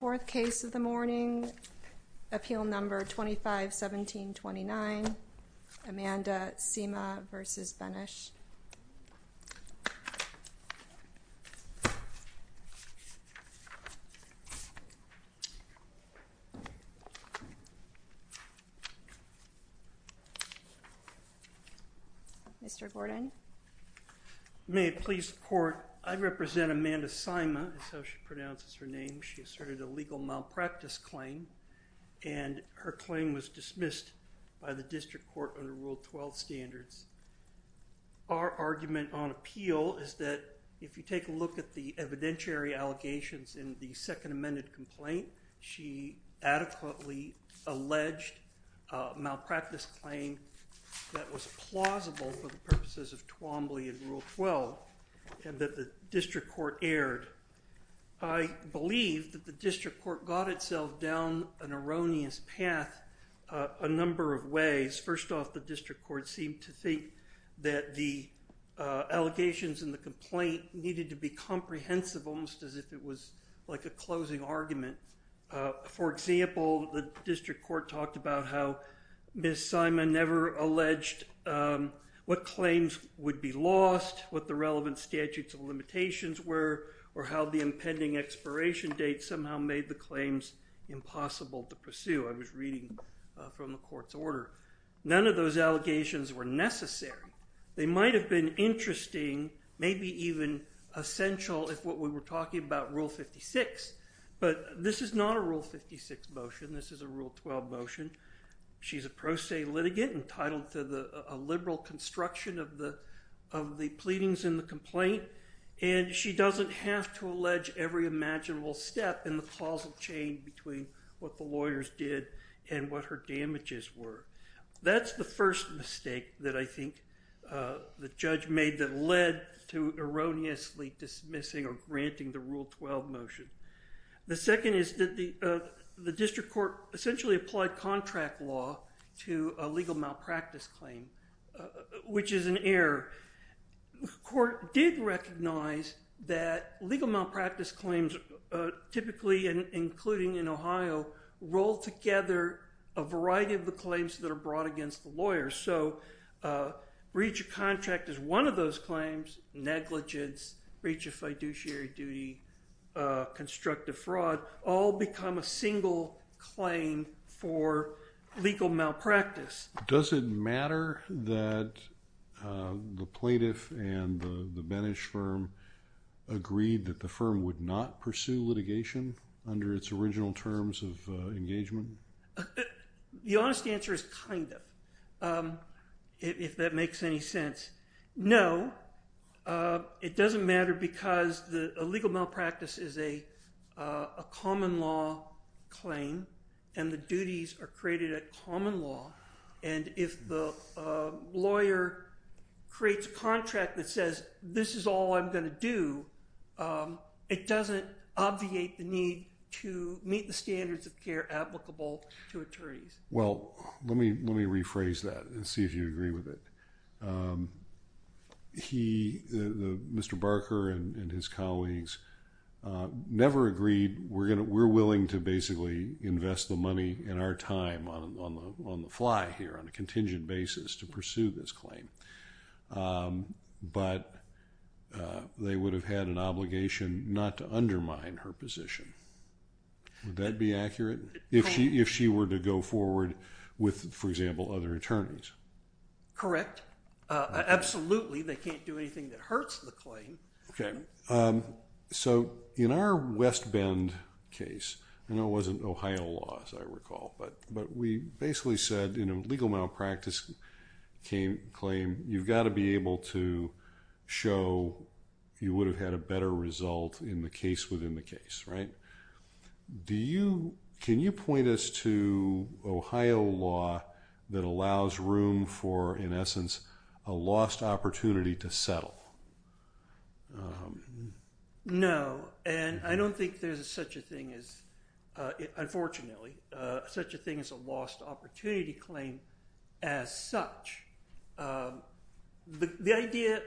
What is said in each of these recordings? Fourth case of the morning, Appeal No. 251729, Amanda Sima v. Benesch. Mr. Gordon. May it please the court, I represent Amanda Sima, that's how she pronounces her name. She asserted a legal malpractice claim and her claim was dismissed by the district court under Rule 12 standards. Our argument on appeal is that if you take a look at the evidentiary allegations in the second amended complaint, she adequately alleged a malpractice claim that was plausible for the purposes of Twombly and Rule 12, and that the district court erred. I believe that the district court got itself down an erroneous path a number of ways. First off, the district court seemed to think that the allegations in the complaint needed to be comprehensive, almost as if it was like a closing argument. For example, the district court talked about how Ms. Sima never alleged what claims would be lost, what the relevant statutes of limitations were, or how the impending expiration date somehow made the claims impossible to pursue. I was reading from the court's order. None of those allegations were necessary. They might have been interesting, maybe even essential if what we were talking about, Rule 56, but this is not a Rule 56 motion, this is a Rule 12 motion. She's a pro se litigant entitled to a liberal construction of the pleadings in the complaint, and she doesn't have to allege every imaginable step in the causal chain between what the lawyers did and what her damages were. That's the first mistake that I think the judge made that led to erroneously dismissing or granting the Rule 12 motion. The second is that the district court essentially applied contract law to a legal malpractice claim, which is an error. The court did recognize that legal malpractice claims typically, including in Ohio, roll together a variety of the claims that are brought against the lawyers. So breach of contract is one of those claims, negligence, breach of fiduciary duty, constructive fraud, all become a single claim for legal malpractice. Does it matter that the plaintiff and the Benes firm agreed that the firm would not pursue litigation under its original terms of engagement? The honest answer is kind of, if that makes any sense. No, it doesn't matter because a legal malpractice is a common law claim, and the duties are created at common law. And if the lawyer creates a contract that says, this is all I'm going to do, it doesn't obviate the need to meet the standards of care applicable to attorneys. Well, let me rephrase that and see if you agree with it. Mr. Barker and his colleagues never agreed, we're willing to basically invest the money in our time on the fly here, on a contingent basis to pursue this claim. But they would have had an obligation not to undermine her position. Would that be accurate? If she were to go forward with, for example, other attorneys? Correct. Absolutely, they can't do anything that hurts the claim. So in our West Bend case, and it wasn't Ohio law as I recall, but we basically said in a legal malpractice claim, you've got to be able to show you would have had a better result in the case within the case, right? Do you, can you point us to Ohio law that allows room for, in essence, a lost opportunity to settle? No, and I don't think there's such a thing as, unfortunately, such a thing as a lost opportunity claim as such. The idea,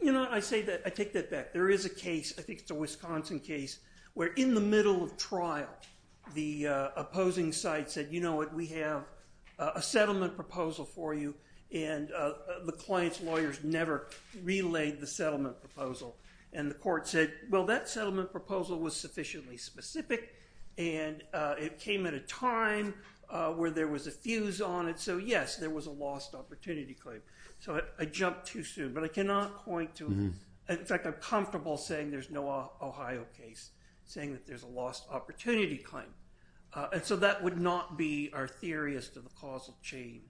you know, I say that, I take that back. There is a case, I think it's a Wisconsin case, where in the middle of trial, the opposing side said, you know what, we have a settlement proposal for you, and the client's lawyers never relayed the settlement proposal. And the court said, well, that settlement proposal was sufficiently specific, and it came at a time where there was a fuse on it, so yes, there was a lost opportunity claim. So I jumped too soon, but I cannot point to, in fact, I'm comfortable saying there's no Ohio case, saying that there's a lost opportunity claim. And so that would not be our theory as to the causal chain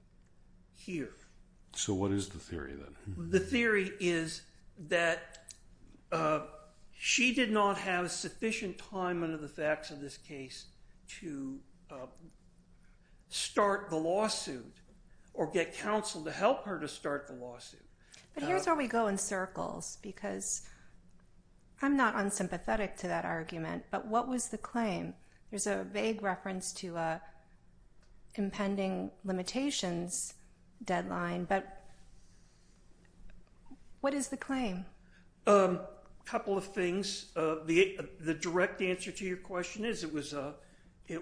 here. So what is the theory then? The theory is that she did not have sufficient time under the facts of this case to start the lawsuit or get counsel to help her to start the lawsuit. But here's where we go in circles, because I'm not unsympathetic to that argument, but what was the claim? There's a vague reference to an impending limitations deadline, but what is the claim? A couple of things. The direct answer to your question is it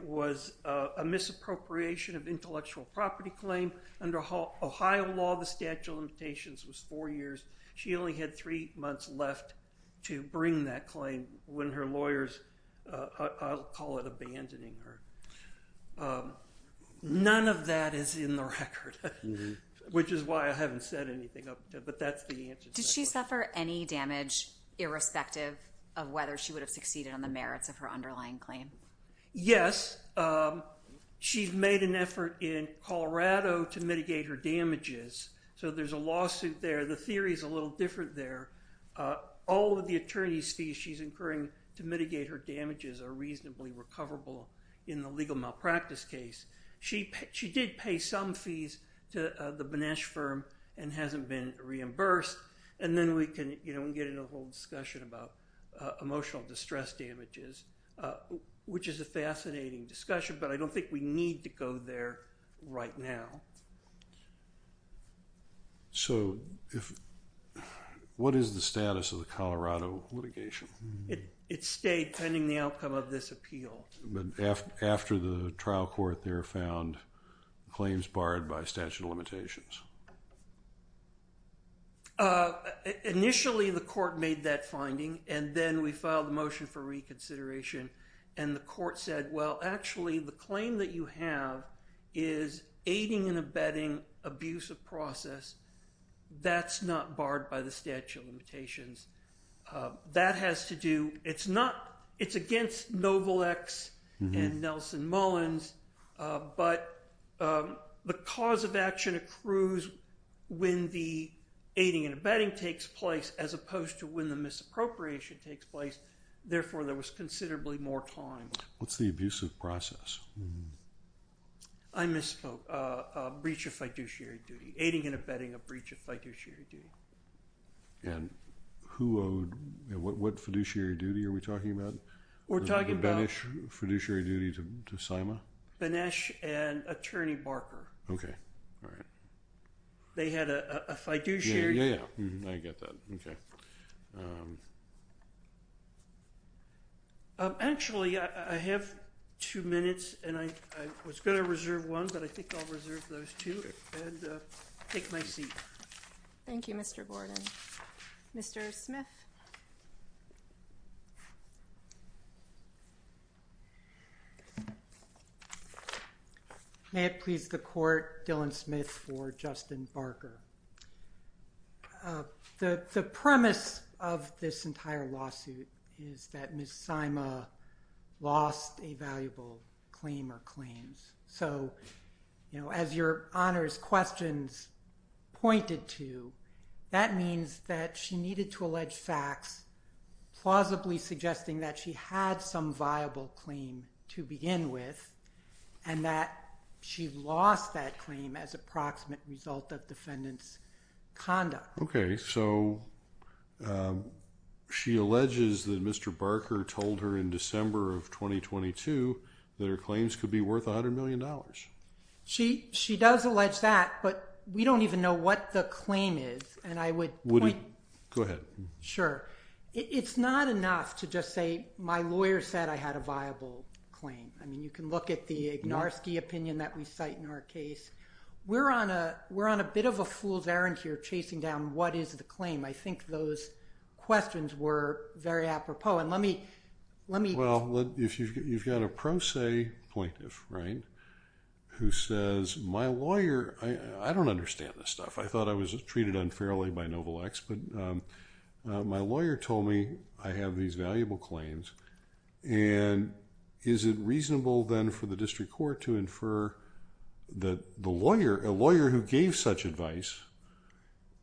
was a misappropriation of intellectual property claim. Under Ohio law, the statute of limitations was four years. She only had three months left to bring that claim when her lawyers, I'll call it abandoning her. None of that is in the record, which is why I haven't said anything, but that's the answer. Did she suffer any damage irrespective of whether she would have succeeded on the merits of her underlying claim? Yes. She's made an effort in Colorado to mitigate her damages, so there's a lawsuit there. The theory is a little different there. All of the attorney's fees she's incurring to mitigate her damages are reasonably recoverable in the legal malpractice case. She did pay some fees to the Benesh firm and hasn't been reimbursed. Then we can get into a whole discussion about emotional distress damages, which is a fascinating discussion, but I don't think we need to go there right now. What is the status of the Colorado litigation? It stayed pending the outcome of this appeal. After the trial court there found claims barred by statute of limitations? Initially, the court made that finding, and then we filed a motion for reconsideration, and the court said, well, actually, the claim that you have is aiding and abetting abuse of process. That's not barred by the statute of limitations. That has to do—it's against Novalex and Nelson Mullins, but the cause of action accrues when the aiding and abetting takes place as opposed to when the misappropriation takes place. Therefore, there was considerably more time. What's the abuse of process? I misspoke. Aiding and abetting a breach of fiduciary duty. And who owed—what fiduciary duty are we talking about? We're talking about— The Benesch fiduciary duty to Syma? Benesch and Attorney Barker. Okay. All right. They had a fiduciary— Yeah, yeah, yeah. I get that. Okay. Actually, I have two minutes, and I was going to reserve one, but I think I'll reserve those two and take my seat. Thank you, Mr. Borden. Mr. Smith? May it please the Court, Dylan Smith for Justin Barker. The premise of this entire lawsuit is that Ms. Syma lost a valuable claim or claims. So, you know, as your honors questions pointed to, that means that she needed to allege facts plausibly suggesting that she had some viable claim to begin with and that she lost that claim as approximate result of defendant's conduct. Okay. So, she alleges that Mr. Barker told her in December of 2022 that her claims could be worth $100 million. She does allege that, but we don't even know what the claim is, and I would point— Go ahead. Sure. It's not enough to just say my lawyer said I had a viable claim. I mean, you can look at the Ignarski opinion that we cite in our case. We're on a bit of a fool's errand here chasing down what is the claim. I think those questions were very apropos, and let me— Well, if you've got a pro se plaintiff, right, who says my lawyer— I don't understand this stuff. I thought I was treated unfairly by Novalex, but my lawyer told me I have these valuable claims, and is it reasonable then for the district court to infer that the lawyer, a lawyer who gave such advice,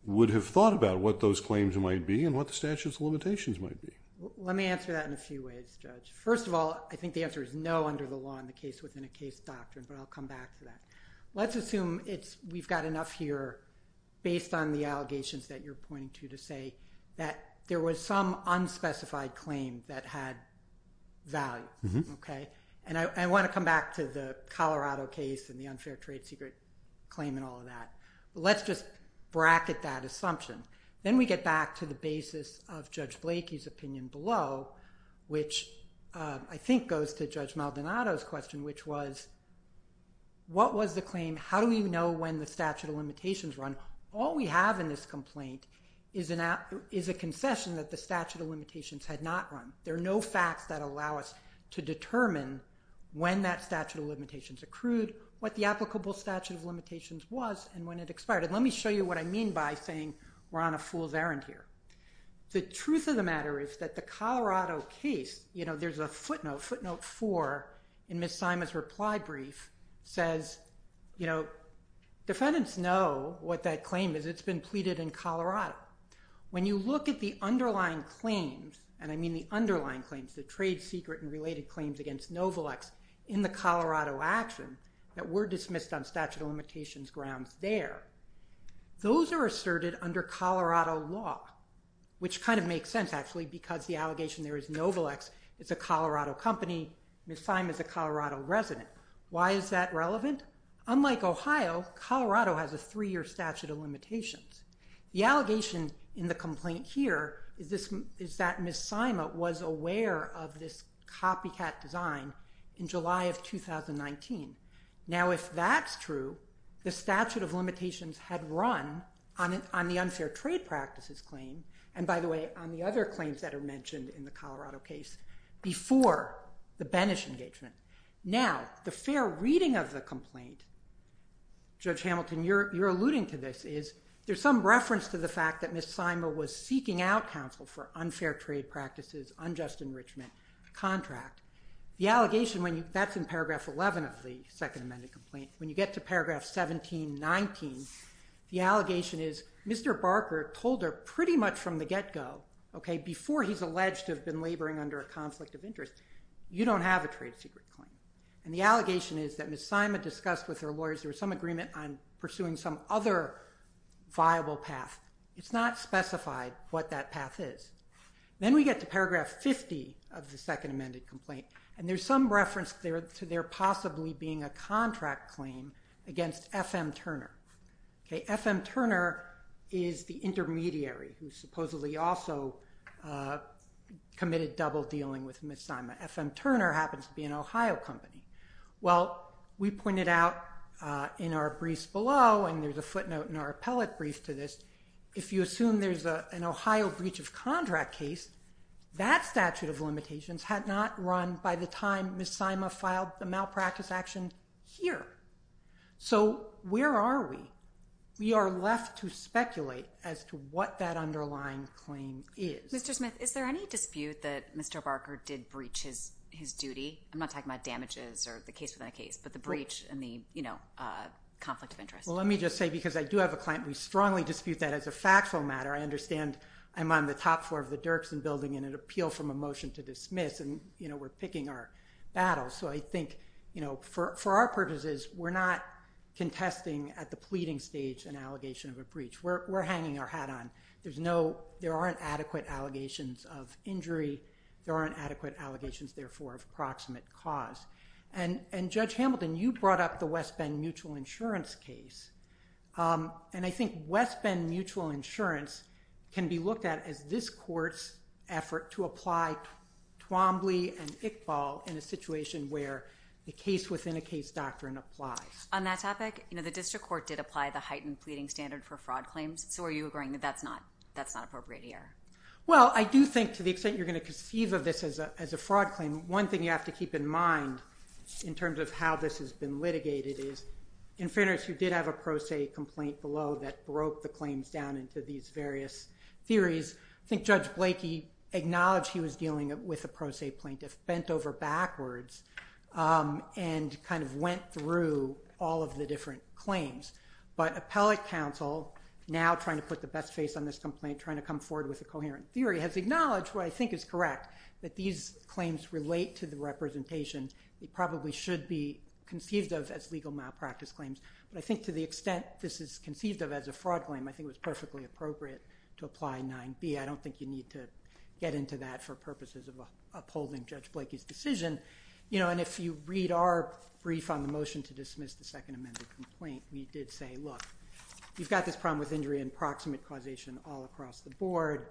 would have thought about what those claims might be and what the statute of limitations might be? Let me answer that in a few ways, Judge. First of all, I think the answer is no under the law in the case within a case doctrine, but I'll come back to that. Let's assume we've got enough here based on the allegations that you're pointing to to say that there was some unspecified claim that had value, okay? And I want to come back to the Colorado case and the unfair trade secret claim and all of that, but let's just bracket that assumption. Then we get back to the basis of Judge Blakey's opinion below, which I think goes to Judge Maldonado's question, which was what was the claim, how do we know when the statute of limitations run? All we have in this complaint is a concession that the statute of limitations had not run. There are no facts that allow us to determine when that statute of limitations accrued, what the applicable statute of limitations was, and when it expired. And let me show you what I mean by saying we're on a fool's errand here. The truth of the matter is that the Colorado case, you know, there's a footnote, footnote four in Ms. Simon's reply brief says, you know, defendants know what that claim is. It's been pleaded in Colorado. When you look at the underlying claims, and I mean the underlying claims, the trade secret and related claims against Novalex in the Colorado action, that were dismissed on statute of limitations grounds there. Those are asserted under Colorado law, which kind of makes sense actually, because the allegation there is Novalex is a Colorado company, Ms. Simon is a Colorado resident. Why is that relevant? Unlike Ohio, Colorado has a three-year statute of limitations. The allegation in the complaint here is that Ms. Simon was aware of this design in July of 2019. Now, if that's true, the statute of limitations had run on the unfair trade practices claim, and by the way, on the other claims that are mentioned in the Colorado case before the Benes engagement. Now, the fair reading of the complaint, Judge Hamilton, you're alluding to this, is there's some reference to the fact that Ms. Simon was seeking out counsel for unfair trade practices, unjust enrichment contract. The allegation, that's in paragraph 11 of the second amended complaint. When you get to paragraph 1719, the allegation is Mr. Barker told her pretty much from the get-go, okay, before he's alleged to have been laboring under a conflict of interest, you don't have a trade secret claim. And the allegation is that Ms. Simon discussed with her lawyers there was some agreement on pursuing some other viable path. It's not specified what that path is. Then we get to paragraph 50 of the second amended complaint, and there's some reference to there possibly being a contract claim against F.M. Turner. Okay, F.M. Turner is the intermediary who supposedly also committed double dealing with Ms. Simon. F.M. Turner happens to be an Ohio company. Well, we pointed out in our briefs below, and there's a footnote in our appellate brief to this, if you assume there's an Ohio breach of contract case, that statute of limitations had not run by the time Ms. Simon filed the malpractice action here. So where are we? We are left to speculate as to what that underlying claim is. Mr. Smith, is there any dispute that Mr. Barker did breach his duty? I'm not talking about damages or the case within a case, but the breach and the, you know, conflict of interest. Well, let me just say, because I do have a client, we strongly dispute that as a factual matter. I understand I'm on the top floor of the Dirksen building in an appeal from a motion to dismiss, and, you know, we're picking our battles. So I think, you know, for our purposes, we're not contesting at the pleading stage an allegation of a breach. We're hanging our hat on. There aren't adequate allegations of injury. There aren't adequate allegations, therefore, of proximate cause. And Judge Hamilton, you brought up the West Bend Mutual Insurance case. And I think West Bend Mutual Insurance can be looked at as this court's effort to apply Twombly and Iqbal in a situation where the case within a case doctrine applies. On that topic, you know, the district court did apply the heightened pleading standard for fraud claims. So are you agreeing that that's not appropriate here? Well, I do think to the extent you're going to conceive of this as a fraud claim, one thing you have to keep in mind in terms of how this has been litigated is, in fairness, you did have a pro se complaint below that broke the claims down into these various theories. I think Judge Blakey acknowledged he was dealing with a pro se plaintiff, bent over backwards, and kind of went through all of the different claims. But appellate counsel, now trying to put the best face on this complaint, trying to come forward with a coherent theory, has acknowledged what I think is correct, that these claims relate to the representation. They probably should be conceived of as legal malpractice claims. But I think to the extent this is conceived of as a fraud claim, I think it was perfectly appropriate to apply 9B. I don't think you need to get into that for purposes of upholding Judge Blakey's decision. You know, and if you read our brief on the motion to dismiss the second amended complaint, we did say, look, you've got this problem with injury and proximate causation all across the board.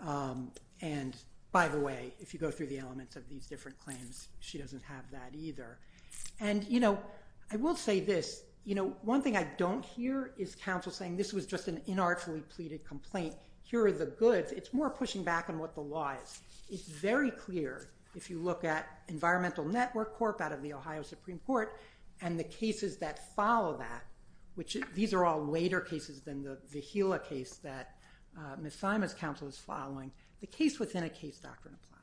And, by the way, if you go through the elements of these different claims, she doesn't have that either. And, you know, I will say this. You know, one thing I don't hear is counsel saying this was just an inartfully pleaded complaint. Here are the goods. It's more pushing back on what the law is. It's very clear, if you look at Environmental Network Corp. out of the Ohio Supreme Court and the cases that follow that, which these are all later cases than the Vigila case that Ms. Simons' counsel is following, the case within a case doctrine applies.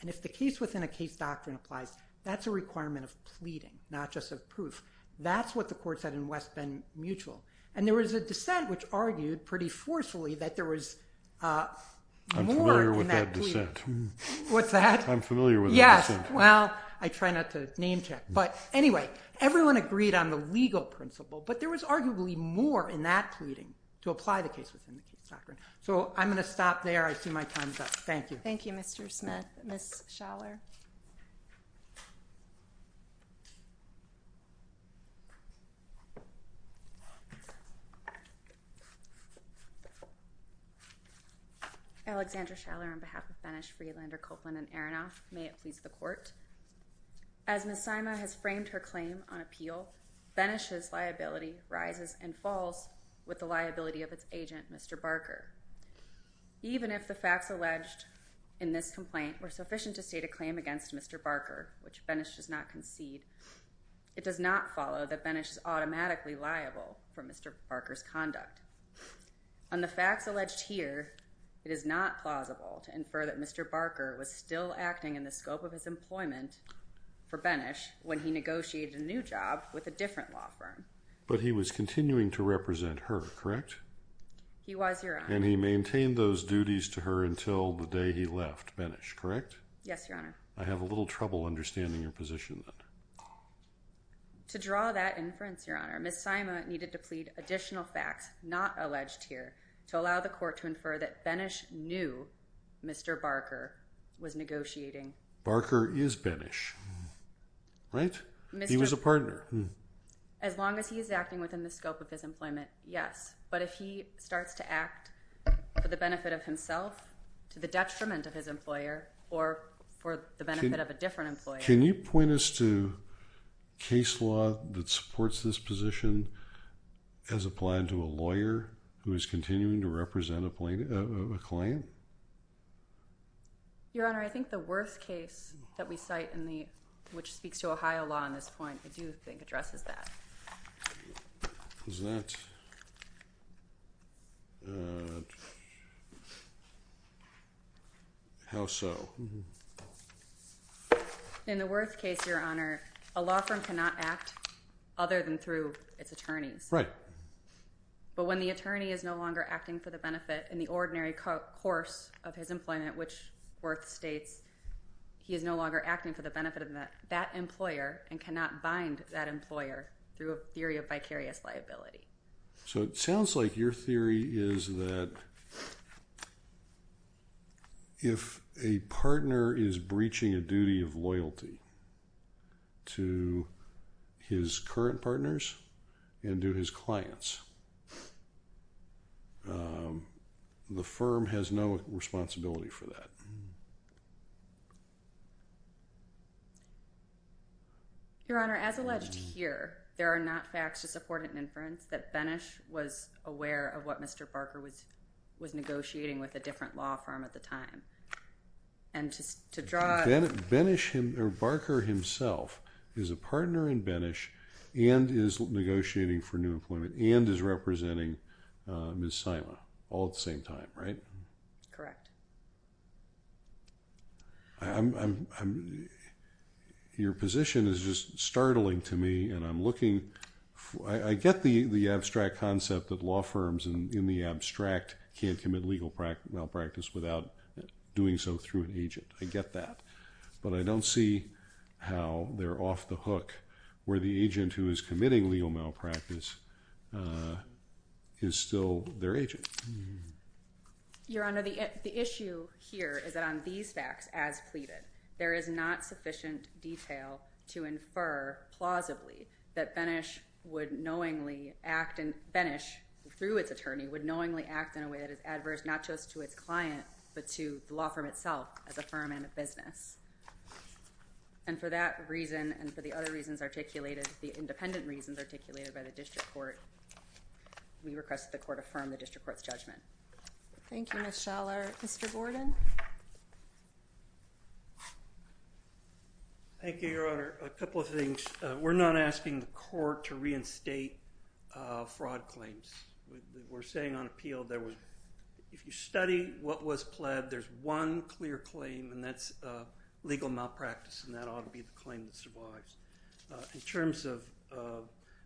And if the case within a case doctrine applies, that's a requirement of pleading, not just of proof. That's what the court said in West Bend Mutual. And there was a dissent which argued pretty forcefully that there was more in that plea. I'm familiar with that dissent. What's that? I'm familiar with that dissent. Yes. Well, I try not to name check. But, anyway, everyone agreed on the legal principle, but there was arguably more in that pleading to apply the case within the case doctrine. So I'm going to stop there. I see my time's up. Thank you. Thank you, Mr. Smith. Ms. Schaller. Alexandra Schaller on behalf of Benesch, Freelander, Copeland, and Aronoff. May it please the court. As Ms. Simons has framed her claim on appeal, Benesch's liability rises and falls with the liability of its agent, Mr. Barker. Even if the facts alleged in this complaint were sufficient to state a claim against Mr. Barker, which Benesch does not concede, it does not follow that Benesch is automatically liable for Mr. Barker's conduct. On the facts alleged here, it is not plausible to infer that Mr. Barker was still acting in the scope of his employment for Benesch when he negotiated a new job with a different law firm. But he was continuing to represent her, correct? He was, Your Honor. And he maintained those duties to her until the day he left Benesch, correct? Yes, Your Honor. I have a little trouble understanding your position then. To draw that inference, Your Honor, Ms. Simons needed to plead additional facts not alleged here to allow the court to infer that Benesch knew Mr. Barker was negotiating. Barker is Benesch, right? He was a partner. As long as he is acting within the scope of his employment, yes. But if he starts to act for the benefit of himself, to the detriment of his employer, or for the benefit of a different employer. Can you point us to case law that supports this position as applied to a lawyer who is continuing to represent a client? Your Honor, I think the Worth case that we cite, which speaks to Ohio law on this point, I do think addresses that. How so? In the Worth case, Your Honor, a law firm cannot act other than through its attorneys. Right. But when the attorney is no longer acting for the benefit in the ordinary course of his employment, which Worth states he is no longer acting for the benefit of that employer and cannot bind that employer through a theory of vicarious liability. So it sounds like your theory is that if a partner is breaching a duty of loyalty to his current partners and to his clients, the firm has no responsibility for that. Your Honor, as alleged here, there are not facts to support an inference that Benesch was aware of what Mr. Barker was negotiating with a different law firm at the time. And to draw... Benesch, or Barker himself, is a partner in Benesch and is negotiating for new employment and is representing Ms. Simon all at the same time, right? Correct. Your position is just startling to me and I'm looking... I get the abstract concept that law firms in the abstract can't commit legal malpractice without doing so through an agent. I get that. But I don't see how they're off the hook where the agent who is committing legal malpractice is still their agent. Your Honor, the issue here is that on these facts as pleaded, there is not sufficient detail to infer plausibly that Benesch would knowingly act... Benesch, through its attorney, would knowingly act in a way that is adverse not just to its client but to the law firm itself as a firm and a business. And for that reason and for the other reasons articulated, the independent reasons articulated by the district court, we request the court affirm the district court's judgment. Thank you, Ms. Schaller. Mr. Gordon? Thank you, Your Honor. A couple of things. We're not asking the court to reinstate fraud claims. We're saying on appeal there was... If you study what was pled, there's one clear claim and that's legal malpractice and that ought to be the claim that survives. In terms of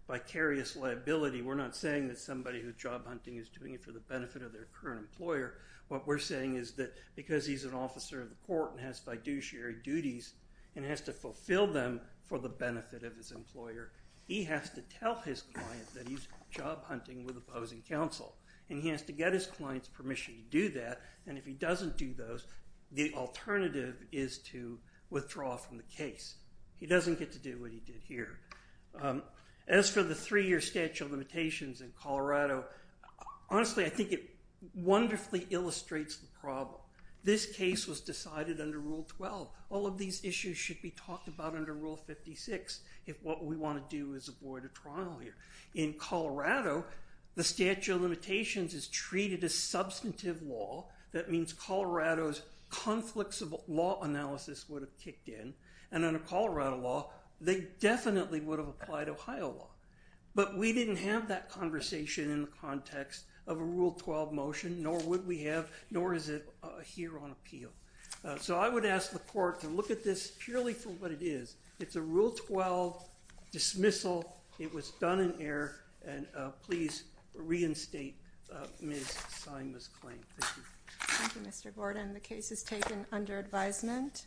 vicarious liability, we're not saying that somebody who's job hunting is doing it for the benefit of their current employer. What we're saying is that because he's an officer of the court and has fiduciary duties and has to fulfill them for the benefit of his employer, he has to tell his client that he's job hunting with opposing counsel. And he has to get his client's permission to do that. And if he doesn't do those, the alternative is to withdraw from the case. He doesn't get to do what he did here. As for the three-year statute of limitations in Colorado, honestly, I think it wonderfully illustrates the problem. This case was decided under Rule 12. All of these issues should be talked about under Rule 56 if what we want to do is avoid a trial here. In Colorado, the statute of limitations is treated as substantive law. That means Colorado's conflicts of law analysis would have kicked in. And under Colorado law, they definitely would have applied Ohio law. But we didn't have that conversation in the context of a Rule 12 motion, nor would we have, nor is it here on appeal. So I would ask the court to look at this purely for what it is. It's a Rule 12 dismissal. It was done in error. And please reinstate Ms. Sima's claim. Thank you. Thank you, Mr. Gordon. The case is taken under advisement.